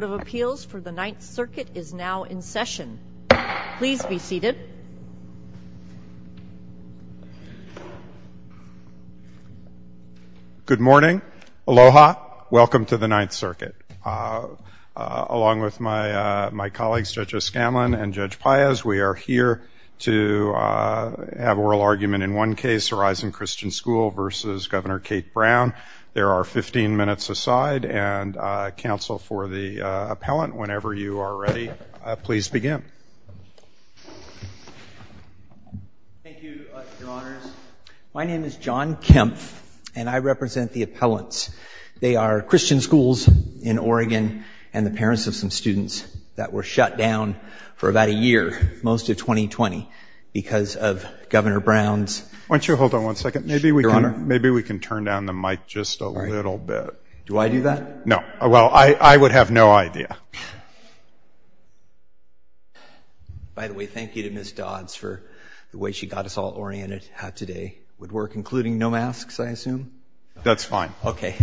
for the Ninth Circuit is now in session. Good morning. Aloha. Welcome to the Ninth Circuit. Along with my colleagues, Judge O'Scanlan and Judge Paez, we are here to have oral argument in one case, Horizon Christian School v. Governor Kate Brown. There are 15 minutes aside. And counsel for the appellant, whenever you are ready, please begin. Thank you, Your Honors. My name is John Kempf, and I represent the appellants. They are Christian schools in Oregon and the parents of some students that were shut down for about a year, most of 2020, because of Governor Brown's absence. Why don't you hold on one second? Maybe we can turn down the mic just a little bit. Do I do that? No. Well, I would have no idea. By the way, thank you to Ms. Dodds for the way she got us all oriented how today would work, including no masks, I assume? That's fine. Okay.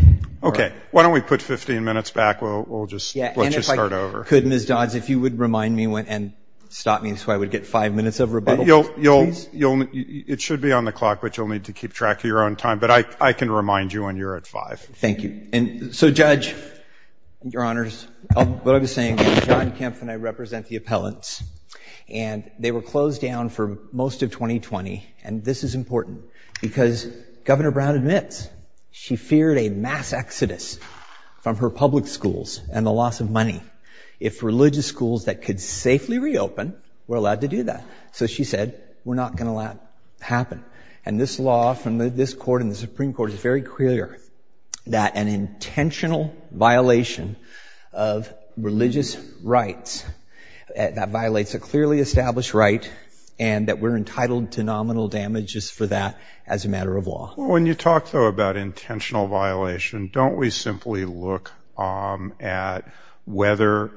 Okay. Why don't we put 15 minutes back? We'll just let you start over. And if I could, Ms. Dodds, if you would remind me and stop me so I would get five minutes of rebuttal, please? It should be on the clock, but you'll need to keep track of your own time. But I can remind you when you're at five. Thank you. So, Judge, Your Honors, what I was saying, John Kempf and I represent the appellants, and they were closed down for most of 2020. And this is important because Governor Brown admits she feared a mass exodus from her public schools and the loss of money if religious schools that could safely reopen were allowed to do that. So she said, we're not going to let it happen. And this law from this court and the Supreme Court is very clear that an intentional violation of religious rights, that violates a clearly established right and that we're entitled to nominal damages for that as a matter of law. When you talk, though, about intentional violation, don't we simply look at whether,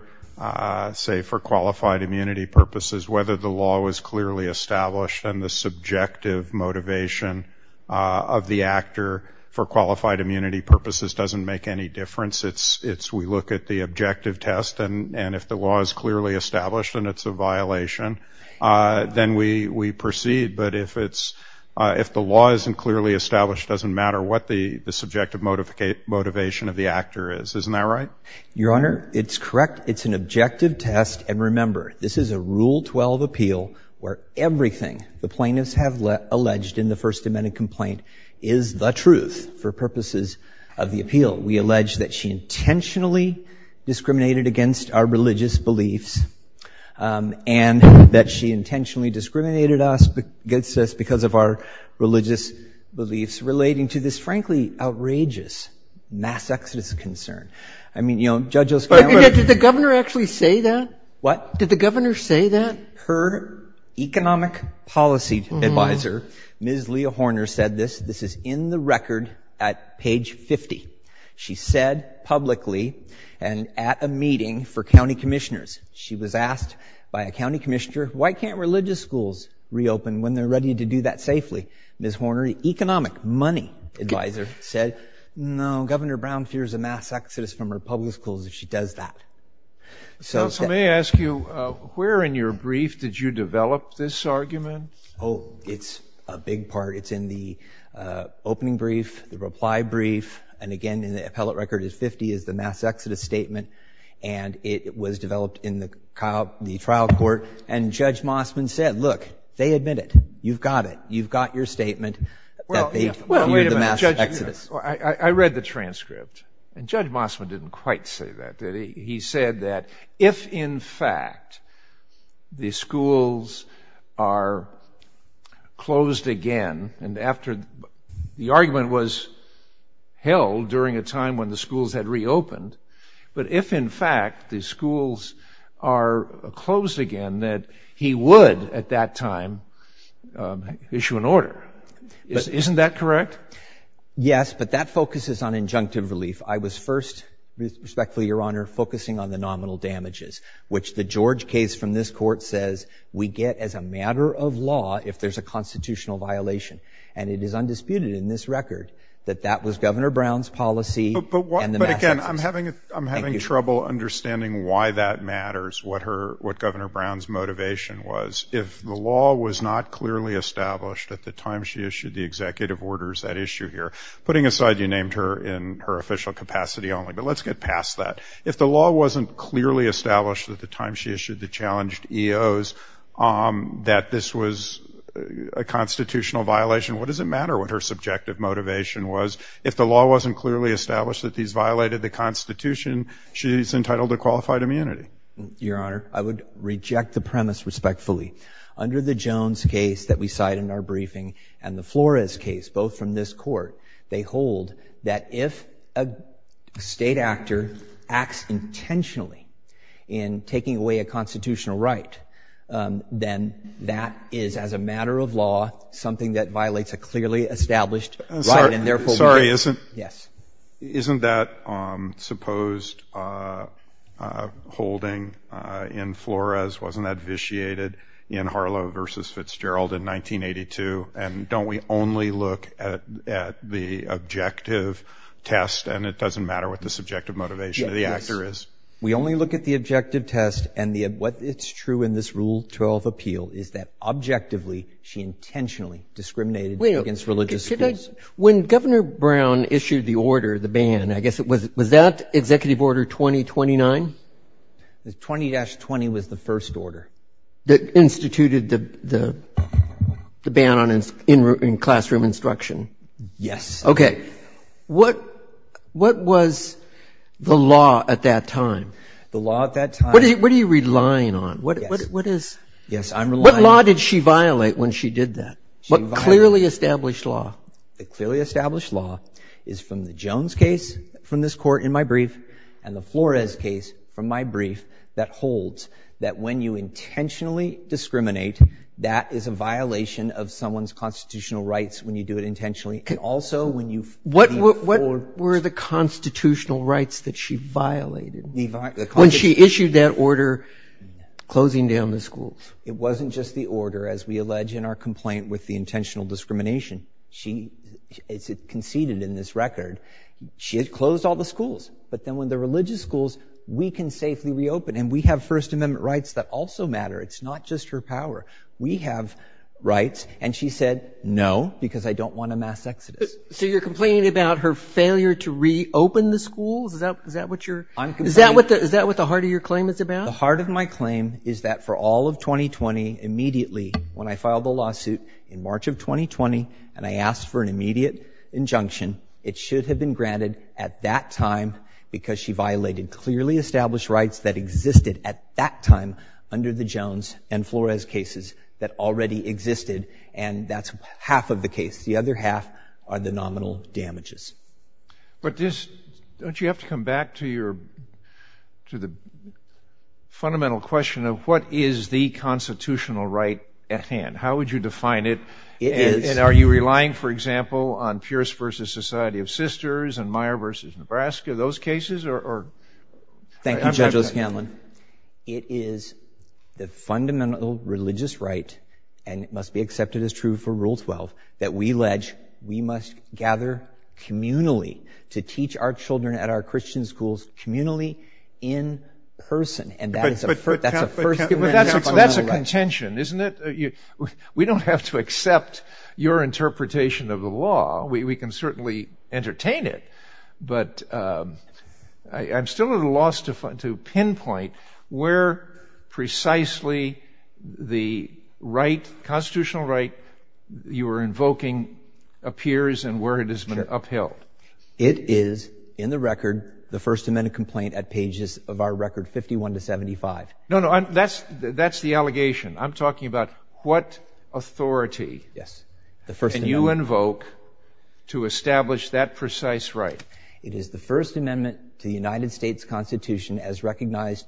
say, for qualified immunity purposes, whether the law was clearly established and the subjective motivation of the actor for qualified immunity purposes doesn't make any difference? It's we look at the objective test, and if the law is clearly established and it's a violation, then we proceed. But if the law isn't clearly established, it doesn't matter what the subjective motivation of the actor is. Isn't that right? Your Honor, it's correct. It's an objective test. And remember, this is a Rule 12 appeal where everything the plaintiffs have alleged in the First Amendment complaint is the truth for purposes of the appeal. We allege that she intentionally discriminated against our religious beliefs and that she intentionally discriminated against us because of our religious beliefs relating to this, frankly, outrageous mass exodus concern. I mean, you know, Judge O'Scann. But did the governor actually say that? What? Did the governor say that? Her economic policy advisor, Ms. Leah Horner, said this. This is in the record at page 50. She said publicly and at a meeting for county commissioners, she was asked by a county commissioner, why can't religious schools reopen when they're ready to do that safely? Ms. Horner, economic money advisor, said, no, Governor Brown fears a mass exodus from her public schools if she does that. Counsel, may I ask you, where in your brief did you develop this argument? Oh, it's a big part. It's in the opening brief, the reply brief, and again, in the appellate record at 50, is the mass exodus statement. And it was developed in the trial court. And Judge Mossman said, look, they admit it. You've got it. You've got your statement that they fear the mass exodus. Well, wait a minute, Judge. I read the transcript. And Judge Mossman didn't quite say that, did he? He said that if, in fact, the schools are closed again, and after the argument was held during a time when the schools had reopened, but if, in fact, the schools are closed again, that he would, at that time, issue an order. Isn't that correct? Yes, but that focuses on injunctive relief. I was first, respectfully, Your Honor, focusing on the nominal damages, which the George case from this Court says we get as a matter of law if there's a constitutional violation. And it is undisputed in this record that that was Governor Brown's policy and the mass exodus. But, again, I'm having trouble understanding why that matters, what Governor Brown's motivation was. If the law was not clearly established at the time she issued the executive orders that issue here, putting aside you named her in her official capacity only, but let's get past that. If the law wasn't clearly established at the time she issued the challenged EOs that this was a constitutional violation, what does it matter what her subjective motivation was? If the law wasn't clearly established that these violated the Constitution, she's entitled to qualified immunity. Your Honor, I would reject the premise respectfully. Under the Jones case that we cite in our briefing and the Flores case, both from this Court, they hold that if a state actor acts intentionally in taking away a constitutional right, then that is, as a matter of law, something that violates a clearly established right. Sorry, isn't that supposed holding in Flores? Wasn't that vitiated in Harlow v. Fitzgerald in 1982? And don't we only look at the objective test and it doesn't matter what the subjective motivation of the actor is? Yes. We only look at the objective test and what is true in this Rule 12 appeal is that objectively she intentionally discriminated against religious schools. When Governor Brown issued the order, the ban, I guess, was that Executive Order 2029? 20-20 was the first order. That instituted the ban on classroom instruction? Yes. Okay. What was the law at that time? The law at that time. What are you relying on? Yes, I'm relying on. What law did she violate when she did that? What clearly established law? The clearly established law is from the Jones case from this Court in my brief and the Flores case from my brief that holds that when you intentionally discriminate, that is a violation of someone's constitutional rights when you do it intentionally and also when you feed forward. What were the constitutional rights that she violated when she issued that order closing down the schools? It wasn't just the order as we allege in our complaint with the intentional discrimination. She conceded in this record. She had closed all the schools, but then when the religious schools, we can safely reopen and we have First Amendment rights that also matter. It's not just her power. We have rights. And she said, no, because I don't want a mass exodus. So you're complaining about her failure to reopen the schools? Is that what the heart of your claim is about? The heart of my claim is that for all of 2020, immediately when I filed the lawsuit in March of 2020 and I asked for an immediate injunction, it should have been granted at that time because she violated clearly established rights that existed at that time under the Jones and Flores cases that already existed, and that's half of the case. The other half are the nominal damages. But don't you have to come back to the fundamental question of what is the constitutional right at hand? How would you define it? It is. And are you relying, for example, on Pierce v. Society of Sisters and Meyer v. Nebraska, those cases? Thank you, Judge Liz Candland. It is the fundamental religious right, and it must be accepted as true for Rule 12, that we must gather communally to teach our children at our Christian schools, communally, in person. But that's a contention, isn't it? We don't have to accept your interpretation of the law. We can certainly entertain it, but I'm still at a loss to pinpoint where precisely the constitutional right you are invoking appears and where it has been upheld. It is, in the record, the First Amendment complaint at pages of our record 51 to 75. No, no, that's the allegation. I'm talking about what authority can you invoke to establish that precise right? It is the First Amendment to the United States Constitution as recognized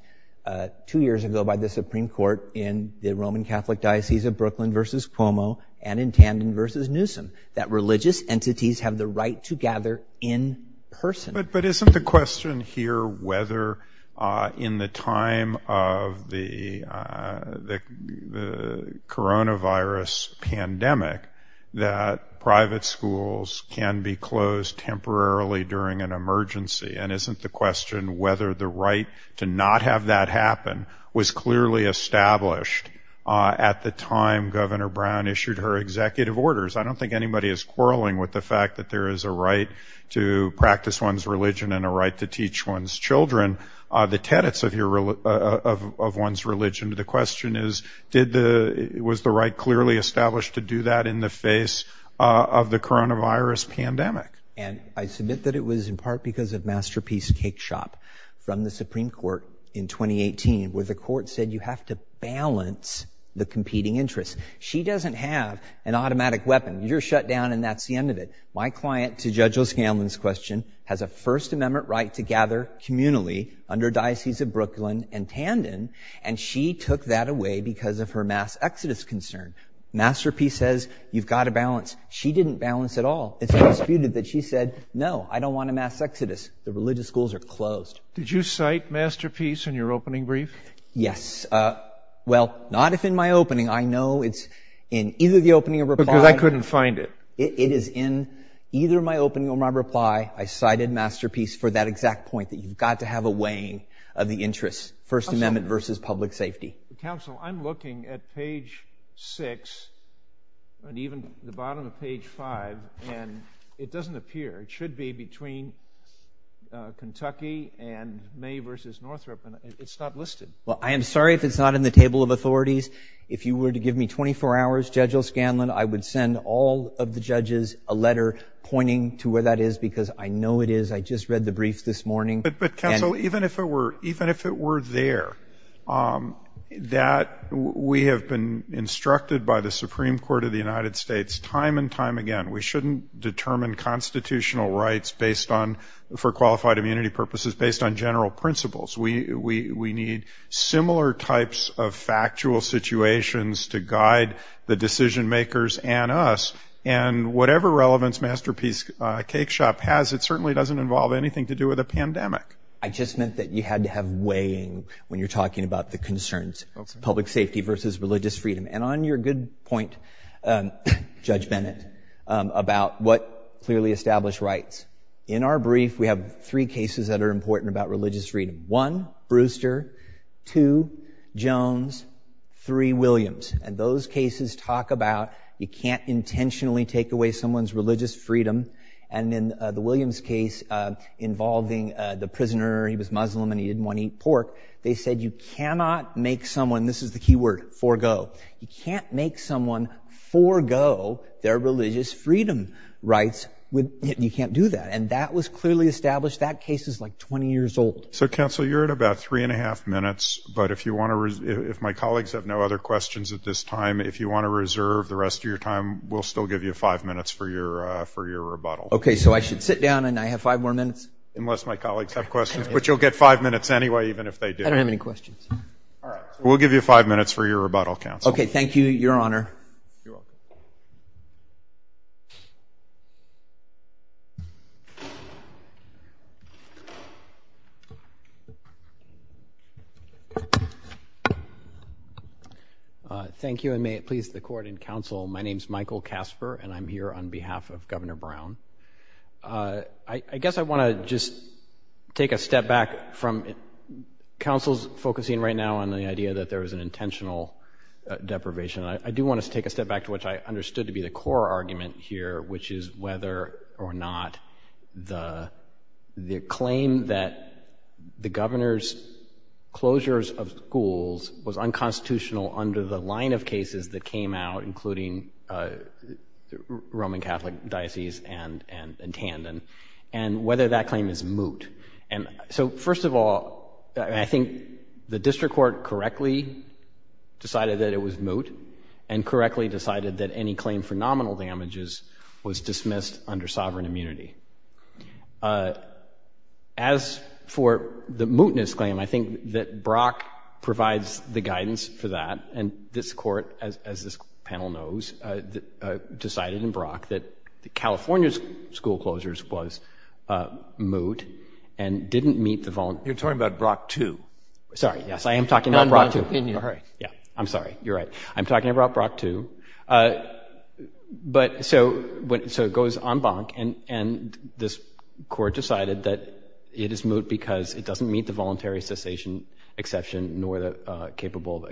two years ago by the Supreme Court in the Roman Catholic Diocese of Brooklyn v. Cuomo and in Tandon v. Newsom, that religious entities have the right to gather in person. But isn't the question here whether, in the time of the coronavirus pandemic, that private schools can be closed temporarily during an emergency? And isn't the question whether the right to not have that happen was clearly established at the time Governor Brown issued her executive orders? I don't think anybody is quarreling with the fact that there is a right to practice one's religion and a right to teach one's children the tenets of one's religion. The question is, was the right clearly established to do that in the face of the coronavirus pandemic? And I submit that it was in part because of Masterpiece's cake shop from the Supreme Court in 2018, where the court said you have to balance the competing interests. She doesn't have an automatic weapon. You're shut down and that's the end of it. My client, to Judge O'Scanlan's question, has a First Amendment right to gather communally under Diocese of Brooklyn and Tandon, and she took that away because of her mass exodus concern. Masterpiece says you've got to balance. She didn't balance at all. It's disputed that she said, no, I don't want a mass exodus. The religious schools are closed. Did you cite Masterpiece in your opening brief? Yes. Well, not if in my opening. I know it's in either the opening or reply. Because I couldn't find it. It is in either my opening or my reply. I cited Masterpiece for that exact point, that you've got to have a weighing of the interests, First Amendment versus public safety. Counsel, I'm looking at page 6 and even the bottom of page 5, and it doesn't appear. It should be between Kentucky and May versus Northrop, and it's not listed. Well, I am sorry if it's not in the table of authorities. If you were to give me 24 hours, Judge O'Scanlan, I would send all of the judges a letter pointing to where that is because I know it is. I just read the brief this morning. But, counsel, even if it were there, we have been instructed by the Supreme Court of the United States time and time again, we shouldn't determine constitutional rights for qualified immunity purposes based on general principles. We need similar types of factual situations to guide the decision-makers and us. And whatever relevance Masterpiece Cakeshop has, it certainly doesn't involve anything to do with a pandemic. I just meant that you had to have weighing when you're talking about the concerns. It's public safety versus religious freedom. And on your good point, Judge Bennett, about what clearly established rights, in our brief, we have three cases that are important about religious freedom. One, Brewster. Two, Jones. Three, Williams. And those cases talk about you can't intentionally take away someone's religious freedom. And in the Williams case involving the prisoner, he was Muslim and he didn't want to eat pork, they said you cannot make someone, this is the key word, forego, you can't make someone forego their religious freedom rights. You can't do that. And that was clearly established. That case is like 20 years old. So, counsel, you're at about three and a half minutes. But if my colleagues have no other questions at this time, if you want to reserve the rest of your time, we'll still give you five minutes for your rebuttal. Okay. So I should sit down and I have five more minutes? Unless my colleagues have questions. But you'll get five minutes anyway, even if they do. I don't have any questions. All right. We'll give you five minutes for your rebuttal, counsel. Okay. Thank you, Your Honor. You're welcome. Thank you, and may it please the Court and counsel, my name is Michael Casper, and I'm here on behalf of Governor Brown. I guess I want to just take a step back from counsel's focusing right now on the idea that there was an intentional deprivation. I do want to take a step back to what I understood to be the core argument here, which is whether or not the claim that the governor's closures of schools was unconstitutional under the line of cases that came out, including Roman Catholic diocese and Tandon, and whether that claim is moot. So first of all, I think the district court correctly decided that it was moot, and correctly decided that any claim for nominal damages was dismissed under sovereign immunity. As for the mootness claim, I think that Brock provides the guidance for that, and this Court, as this panel knows, decided in Brock that California's school closures was moot and didn't meet the voluntary You're talking about Brock 2. Sorry, yes, I am talking about Brock 2. In your opinion. I'm sorry. You're right. I'm talking about Brock 2. So it goes en banc, and this Court decided that it is moot because it doesn't meet the voluntary cessation exception nor the capable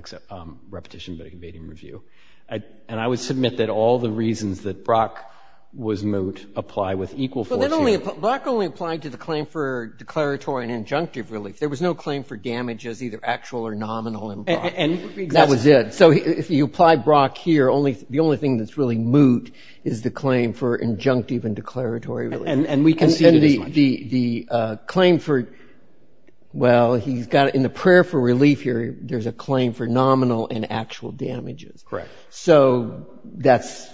repetition but evading review. And I would submit that all the reasons that Brock was moot apply with equal force here. But Brock only applied to the claim for declaratory and injunctive relief. There was no claim for damages, either actual or nominal, in Brock. That was it. So if you apply Brock here, the only thing that's really moot is the claim for injunctive and declaratory relief. And we conceded as much. I think the claim for, well, he's got, in the prayer for relief here, there's a claim for nominal and actual damages. Correct. So that's,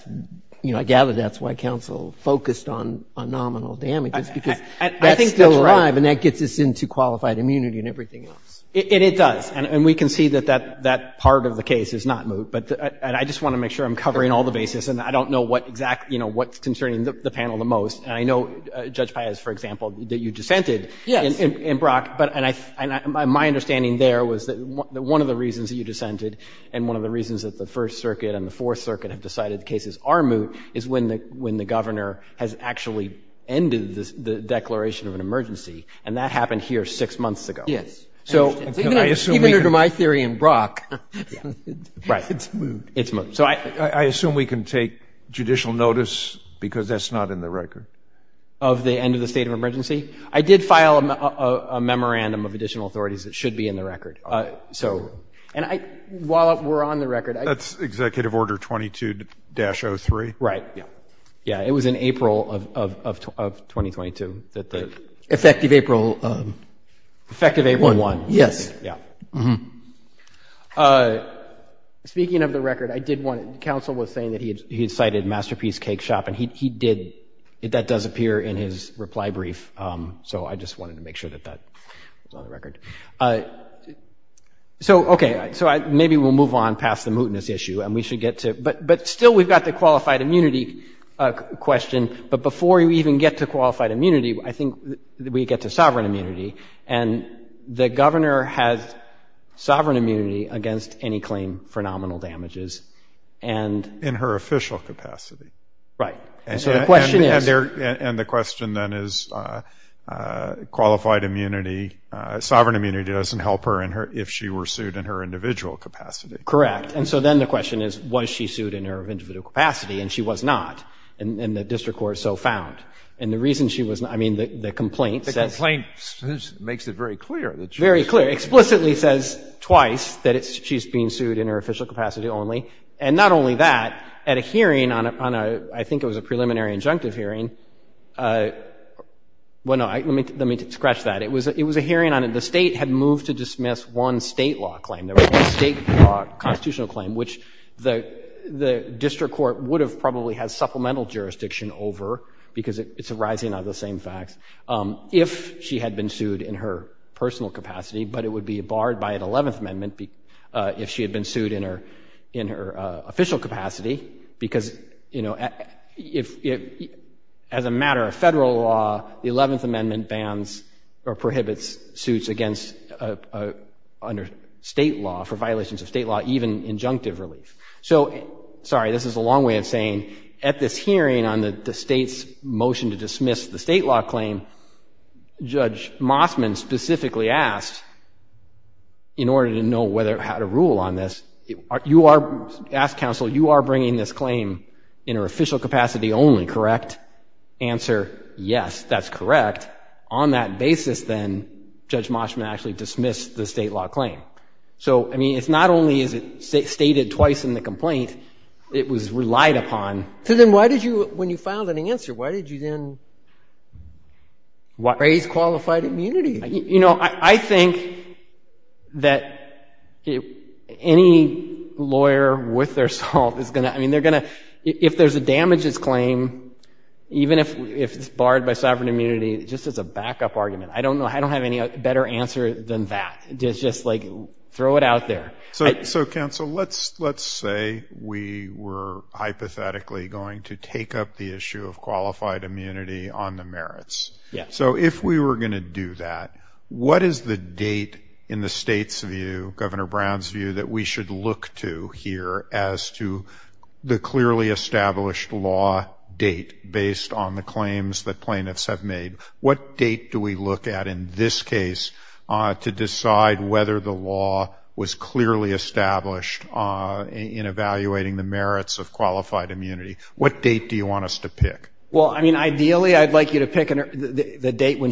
you know, I gather that's why counsel focused on nominal damages because that's still alive. I think that's right. And that gets us into qualified immunity and everything else. And it does. And we concede that that part of the case is not moot. But I just want to make sure I'm covering all the bases. And I don't know what exactly, you know, what's concerning the panel the most. And I know, Judge Paez, for example, that you dissented in Brock. Yes. And my understanding there was that one of the reasons that you dissented and one of the reasons that the First Circuit and the Fourth Circuit have decided cases are moot is when the governor has actually ended the declaration of an emergency. And that happened here six months ago. Yes. I understand. Even under my theory in Brock, it's moot. Right. It's moot. I assume we can take judicial notice because that's not in the record. Of the end of the state of emergency? I did file a memorandum of additional authorities that should be in the record. So while we're on the record. That's Executive Order 22-03. Right. Yeah. It was in April of 2022 that the. Effective April. Effective April 1. Yes. Yeah. Speaking of the record, I did want to. Counsel was saying that he had cited Masterpiece Cake Shop and he did. That does appear in his reply brief. So I just wanted to make sure that that was on the record. So, OK. So maybe we'll move on past the mootness issue and we should get to. But still, we've got the qualified immunity question. But before you even get to qualified immunity, I think we get to sovereign immunity. And the governor has sovereign immunity against any claim for nominal damages. And. In her official capacity. Right. And so the question is. And the question then is qualified immunity. Sovereign immunity doesn't help her if she were sued in her individual capacity. Correct. And so then the question is, was she sued in her individual capacity? And she was not. And the district court so found. And the reason she was not. I mean, the complaint says. The complaint makes it very clear. Very clear. Explicitly says twice that she's being sued in her official capacity only. And not only that. At a hearing on a, I think it was a preliminary injunctive hearing. Well, no. Let me scratch that. It was a hearing on the state had moved to dismiss one state law claim. There was a state law constitutional claim. Which the district court would have probably had supplemental jurisdiction over. Because it's arising out of the same facts. If she had been sued in her personal capacity. But it would be barred by an 11th amendment. If she had been sued in her official capacity. Because, you know, as a matter of federal law. The 11th amendment bans or prohibits suits against under state law. For violations of state law. Even injunctive relief. So, sorry. This is a long way of saying. At this hearing on the state's motion to dismiss the state law claim. Judge Mossman specifically asked. In order to know how to rule on this. You are, ask counsel, you are bringing this claim in her official capacity only, correct? Answer, yes, that's correct. On that basis then, Judge Mossman actually dismissed the state law claim. So, I mean, it's not only is it stated twice in the complaint. It was relied upon. So then why did you, when you filed an answer, why did you then raise qualified immunity? You know, I think that any lawyer with their salt is going to, I mean, they're going to. If there's a damages claim. Even if it's barred by sovereign immunity. Just as a backup argument. I don't know, I don't have any better answer than that. Just like throw it out there. So, counsel, let's say we were hypothetically going to take up the issue of qualified immunity on the merits. So if we were going to do that, what is the date in the state's view, Governor Brown's view that we should look to here as to the clearly established law date. Based on the claims that plaintiffs have made. What date do we look at in this case to decide whether the law was clearly established in evaluating the merits of qualified immunity? What date do you want us to pick? Well, I mean, ideally, I'd like you to pick the date when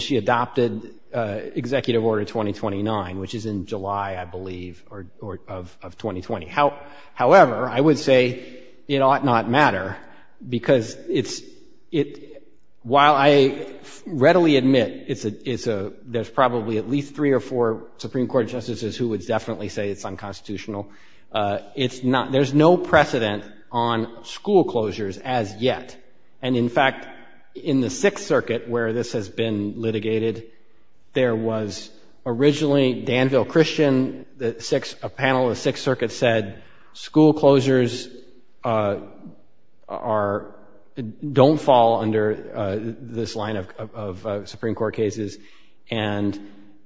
she adopted executive order 2029, which is in July, I believe, of 2020. However, I would say it ought not matter. Because while I readily admit there's probably at least three or four Supreme Court justices who would definitely say it's unconstitutional, there's no precedent on school closures as yet. And in fact, in the Sixth Circuit where this has been litigated, there was originally Danville Christian, a panel of the Sixth Circuit said school closures don't fall under this line of Supreme Court cases. And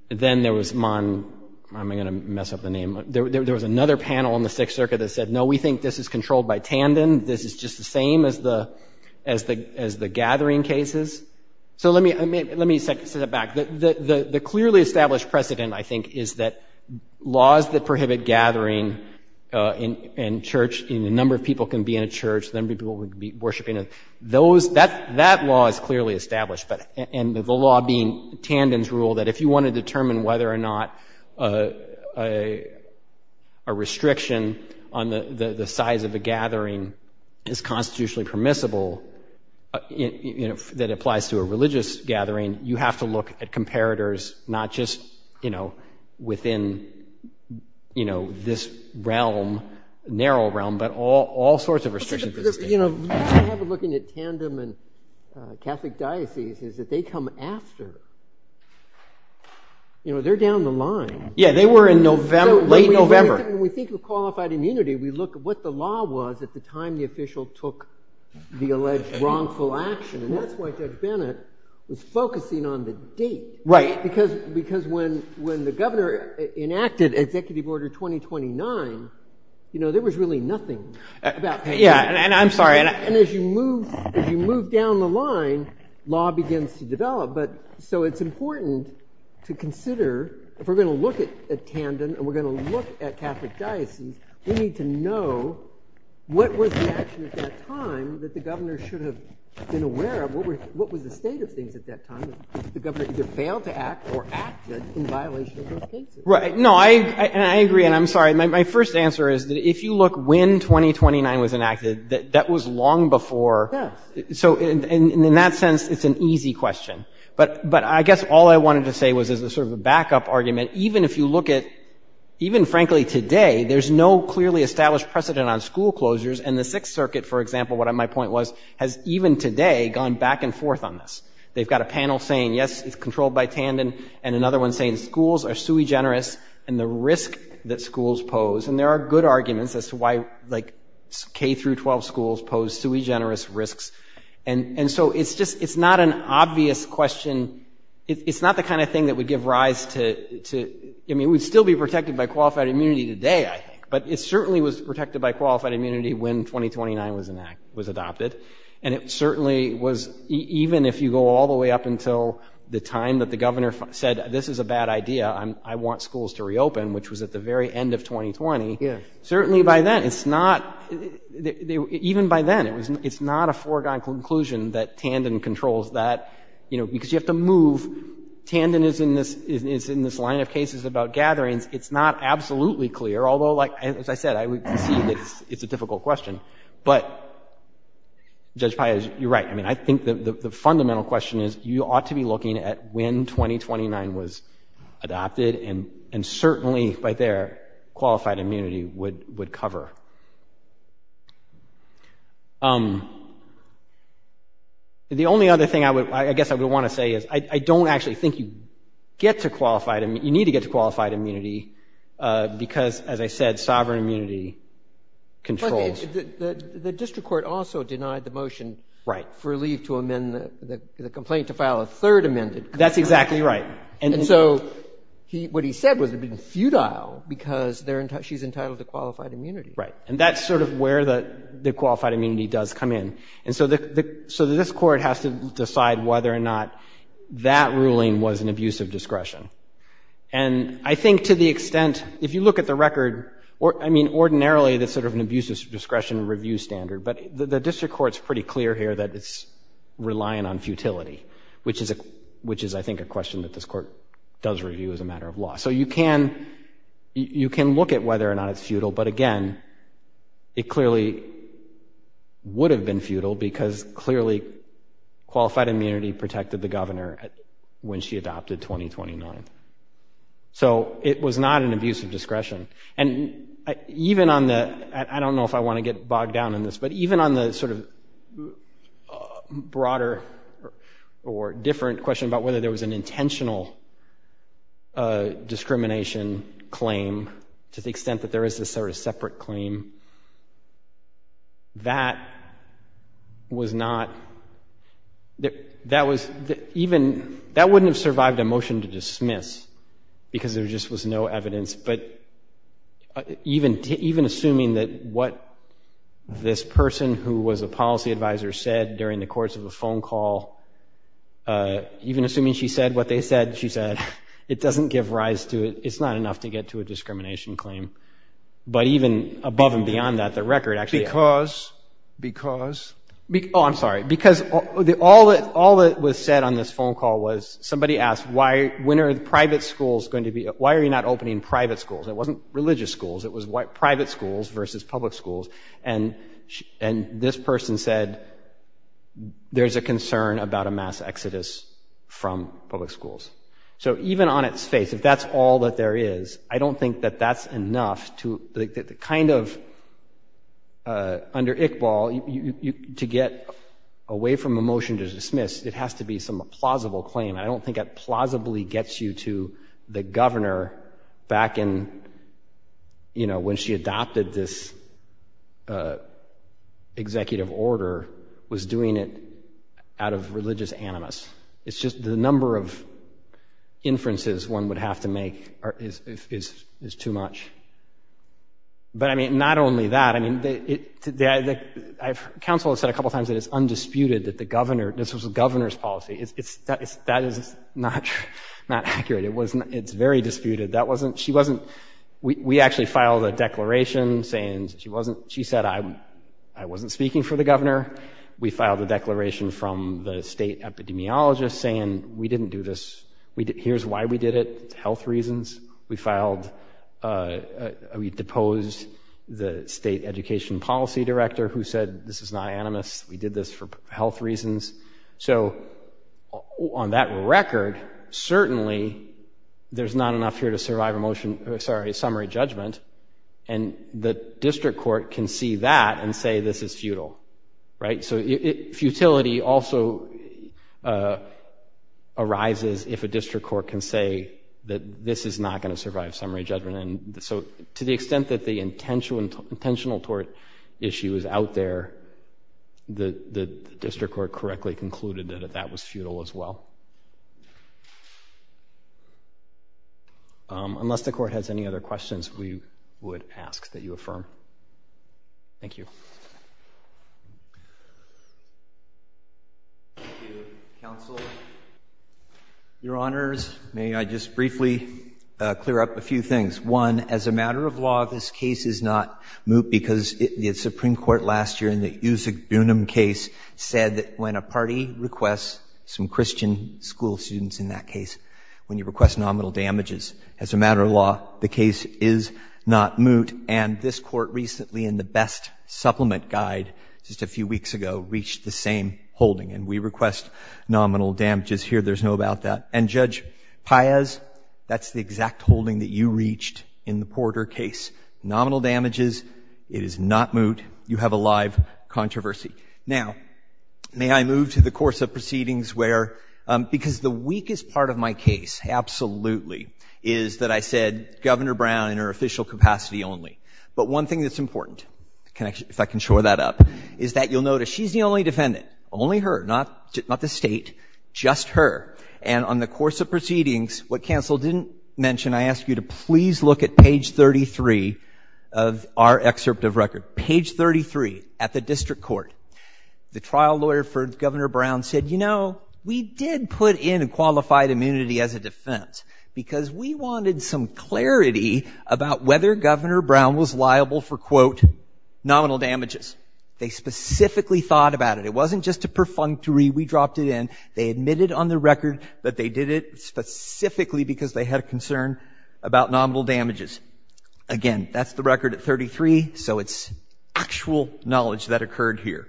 then there was Mon, I'm going to mess up the name. There was another panel in the Sixth Circuit that said, no, we think this is controlled by Tandon. This is just the same as the gathering cases. So let me say that back. The clearly established precedent, I think, is that laws that prohibit gathering in church, a number of people can be in a church, a number of people can be worshipping, that law is clearly established. And the law being Tandon's rule that if you want to determine whether or not a restriction on the size of a gathering is not just within this realm, narrow realm, but all sorts of restrictions. What I have in looking at Tandon and Catholic dioceses is that they come after. They're down the line. Yeah, they were in late November. When we think of qualified immunity, we look at what the law was at the time the official took the alleged wrongful action. And that's why Judge Bennett was focusing on the date. Right. Because when the governor enacted Executive Order 2029, there was really nothing. Yeah, and I'm sorry. And as you move down the line, law begins to develop. So it's important to consider, if we're going to look at Tandon and we're going to look at Catholic dioceses, we need to know what was the action at that time that the governor should have been aware of, what was the state of things at that time that the governor either failed to act or acted in violation of those cases. Right. No, I agree, and I'm sorry. My first answer is that if you look when 2029 was enacted, that was long before. Yes. So in that sense, it's an easy question. But I guess all I wanted to say was as a sort of a backup argument, even if you look at, even frankly today, there's no clearly established precedent on school closures. And the Sixth Circuit, for example, what my point was, has even today gone back and forth on this. They've got a panel saying, yes, it's controlled by Tandon, and another one saying schools are sui generis and the risk that schools pose. And there are good arguments as to why, like, K through 12 schools pose sui generis risks. And so it's just, it's not an obvious question. It's not the kind of thing that would give rise to, I mean, it would still be protected by qualified immunity today, I think, but it certainly was protected by qualified immunity when 2029 was adopted. And it certainly was, even if you go all the way up until the time that the governor said, this is a bad idea, I want schools to reopen, which was at the very end of 2020. Certainly by then, it's not, even by then, it's not a foregone conclusion that Tandon controls that, you know, because you have to move. Tandon is in this line of cases about gatherings. It's not absolutely clear, although, like, as I said, I would concede that it's a difficult question. But, Judge Paez, you're right. I mean, I think the fundamental question is you ought to be looking at when 2029 was adopted and certainly by there, qualified immunity would cover. The only other thing I would, I guess I would want to say is I don't actually think you get to qualified, you need to get to qualified immunity because, as I said, sovereign immunity controls. The district court also denied the motion for leave to amend the complaint to file a third amended. That's exactly right. And so what he said was it would be futile because she's entitled to qualified immunity. Right. And that's sort of where the qualified immunity does come in. And so this court has to decide whether or not that ruling was an abuse of discretion. And I think to the extent, if you look at the record, I mean, ordinarily, that's sort of an abuse of discretion review standard, but the district court's pretty clear here that it's relying on futility, which is I think a question that this court does review as a matter of law. So you can look at whether or not it's futile, but again, it clearly would have been futile because clearly qualified immunity protected the governor when she adopted 2029. So it was not an abuse of discretion. And even on the, I don't know if I want to get bogged down in this, but even on the sort of broader or different question about whether there was an intentional discrimination claim to the extent that there is this sort of separate claim, that was not, that was even, that wouldn't have survived a motion to dismiss because there just was no evidence. But even assuming that what this person who was a policy advisor said during the course of a phone call, even assuming she said what they said, she said, it doesn't give rise to it. It's not enough to get to a discrimination claim. But even above and beyond that, the record actually. Because? Because? Oh, I'm sorry. Because all that was said on this phone call was somebody asked, when are private schools going to be, why are you not opening private schools? It wasn't religious schools. It was private schools versus public schools. And this person said, there's a concern about a mass exodus from public schools. So even on its face, if that's all that there is, I don't think that that's enough to kind of, under Iqbal, to get away from a motion to dismiss, it has to be some plausible claim. I don't think it plausibly gets you to the governor back in, you know, when she adopted this executive order was doing it out of religious animus. It's just the number of inferences one would have to make is too much. But, I mean, not only that, I mean, council has said a couple times that it's undisputed that the governor, this was the governor's policy. That is not accurate. It's very disputed. She wasn't, we actually filed a declaration saying she wasn't, she said I wasn't speaking for the governor. We filed a declaration from the state epidemiologist saying we didn't do this. Here's why we did it, health reasons. We filed, we deposed the state education policy director who said this is not animus. We did this for health reasons. So on that record, certainly there's not enough here to survive a motion, sorry, summary judgment. And the district court can see that and say this is futile, right? So futility also arises if a district court can say that this is not going to survive summary judgment. And so to the extent that the intentional tort issue is out there, the district court correctly concluded that that was futile as well. Unless the court has any other questions, we would ask that you affirm. Thank you. Thank you, counsel. Your Honors, may I just briefly clear up a few things. One, as a matter of law, this case is not moot because the Supreme Court last year in the Yusak Bunim case said that when a party requests, some Christian school students in that case, when you request nominal damages, as a matter of law, the case is not moot. And this court recently in the Best Supplement Guide just a few weeks ago reached the same holding. And we request nominal damages here. There's no doubt about that. And, Judge Paez, that's the exact holding that you reached in the Porter case, nominal damages. It is not moot. You have a live controversy. Now, may I move to the course of proceedings where, because the weakest part of my case, absolutely, is that I said Governor Brown in her official capacity only. But one thing that's important, if I can shore that up, is that you'll notice she's the only defendant. Only her. Not the State. Just her. And on the course of proceedings, what counsel didn't mention, I ask you to please look at page 33 of our excerpt of record. Page 33 at the district court. The trial lawyer for Governor Brown said, you know, we did put in a qualified immunity as a defense because we wanted some clarity about whether Governor Brown was liable for, quote, nominal damages. They specifically thought about it. It wasn't just a perfunctory, we dropped it in. They admitted on the record that they did it specifically because they had a concern about nominal damages. Again, that's the record at 33, so it's actual knowledge that occurred here.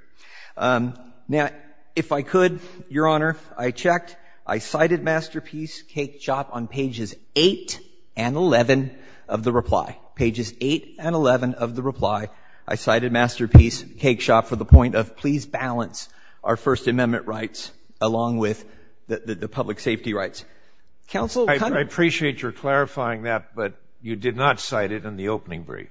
Now, if I could, Your Honor, I checked. I cited Masterpiece Cake Shop on pages 8 and 11 of the reply. Pages 8 and 11 of the reply. I cited Masterpiece Cake Shop for the point of, please balance our First Amendment rights along with the public safety rights. Counsel. I appreciate your clarifying that, but you did not cite it in the opening brief.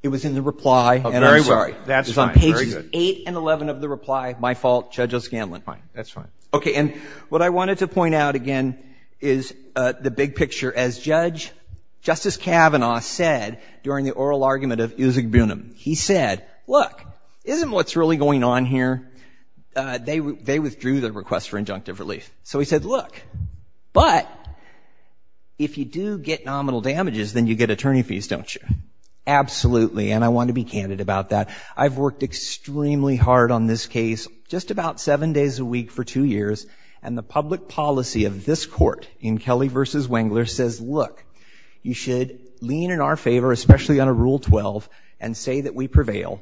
It was in the reply, and I'm sorry. That's fine. Page 8 and 11 of the reply. My fault. Judge O'Scanlan. Fine. That's fine. Okay. And what I wanted to point out, again, is the big picture. As Judge Justice Kavanaugh said during the oral argument of Uzug Bunim, he said, look, isn't what's really going on here? They withdrew their request for injunctive relief. So he said, look, but if you do get nominal damages, then you get attorney fees, don't you? Absolutely. And I want to be candid about that. I've worked extremely hard on this case, just about seven days a week for two years, and the public policy of this court in Kelly v. Wengler says, look, you should lean in our favor, especially on a Rule 12, and say that we prevail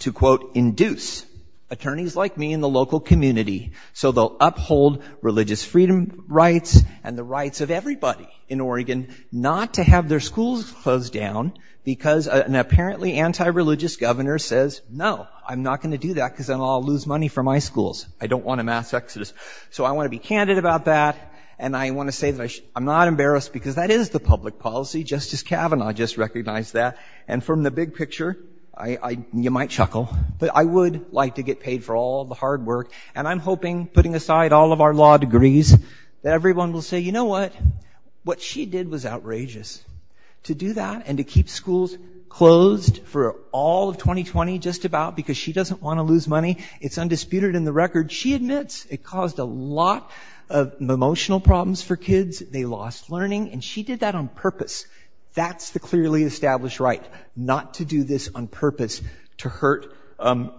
to, quote, induce attorneys like me in the local community so they'll uphold religious freedom rights and the rights of everybody in Oregon not to have their schools closed down because an apparently anti-religious governor says, no, I'm not going to do that because then I'll lose money for my schools. I don't want a mass exodus. So I want to be candid about that, and I want to say that I'm not embarrassed because that is the public policy. Justice Kavanaugh just recognized that. And from the big picture, you might chuckle, but I would like to get paid for all the hard work, and I'm hoping, putting aside all of our law degrees, that everyone will say, you know what? What she did was outrageous. To do that and to keep schools closed for all of 2020 just about because she doesn't want to lose money, it's undisputed in the record. She admits it caused a lot of emotional problems for kids. They lost learning. And she did that on purpose. That's the clearly established right, not to do this on purpose to hurt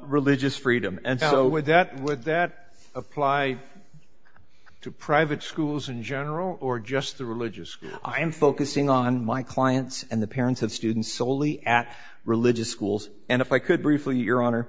religious freedom. And so would that apply to private schools in general or just the religious schools? I am focusing on my clients and the parents of students solely at religious schools. And if I could briefly, Your Honor,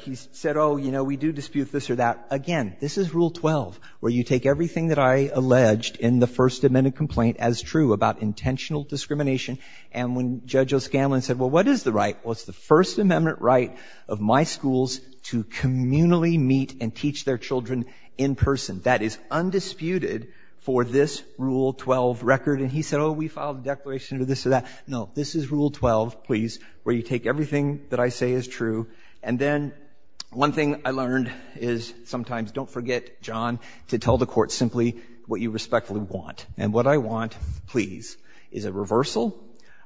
he said, oh, you know, we do dispute this or that. Again, this is Rule 12 where you take everything that I alleged in the First Amendment complaint as true about intentional discrimination. And when Judge O'Scanlan said, well, what is the right? Well, it's the First Amendment right of my schools to communally meet and teach their children in person. That is undisputed for this Rule 12 record. And he said, oh, we filed a declaration of this or that. No, this is Rule 12, please, where you take everything that I say as true. And then one thing I learned is sometimes don't forget, John, to tell the court simply what you respectfully want. And what I want, please, is a reversal.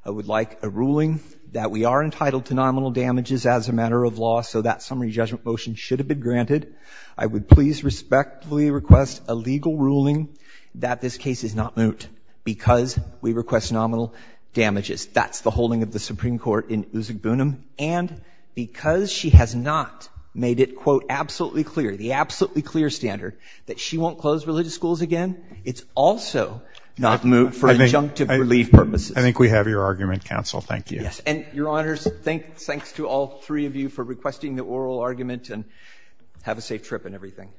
I would like a ruling that we are entitled to nominal damages as a matter of law, so that summary judgment motion should have been granted. I would please respectfully request a legal ruling that this case is not moot because we request nominal damages. That's the holding of the Supreme Court in Uzugbunum. And because she has not made it, quote, absolutely clear, the absolutely clear standard that she won't close religious schools again, it's also not moot for adjunctive relief purposes. I think we have your argument, counsel. Thank you. And, Your Honors, thanks to all three of you for requesting the oral argument. And have a safe trip and everything.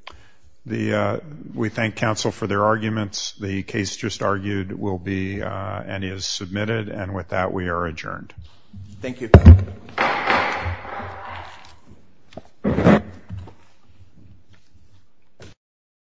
We thank counsel for their arguments. The case just argued will be and is submitted. And with that, we are adjourned. Thank you.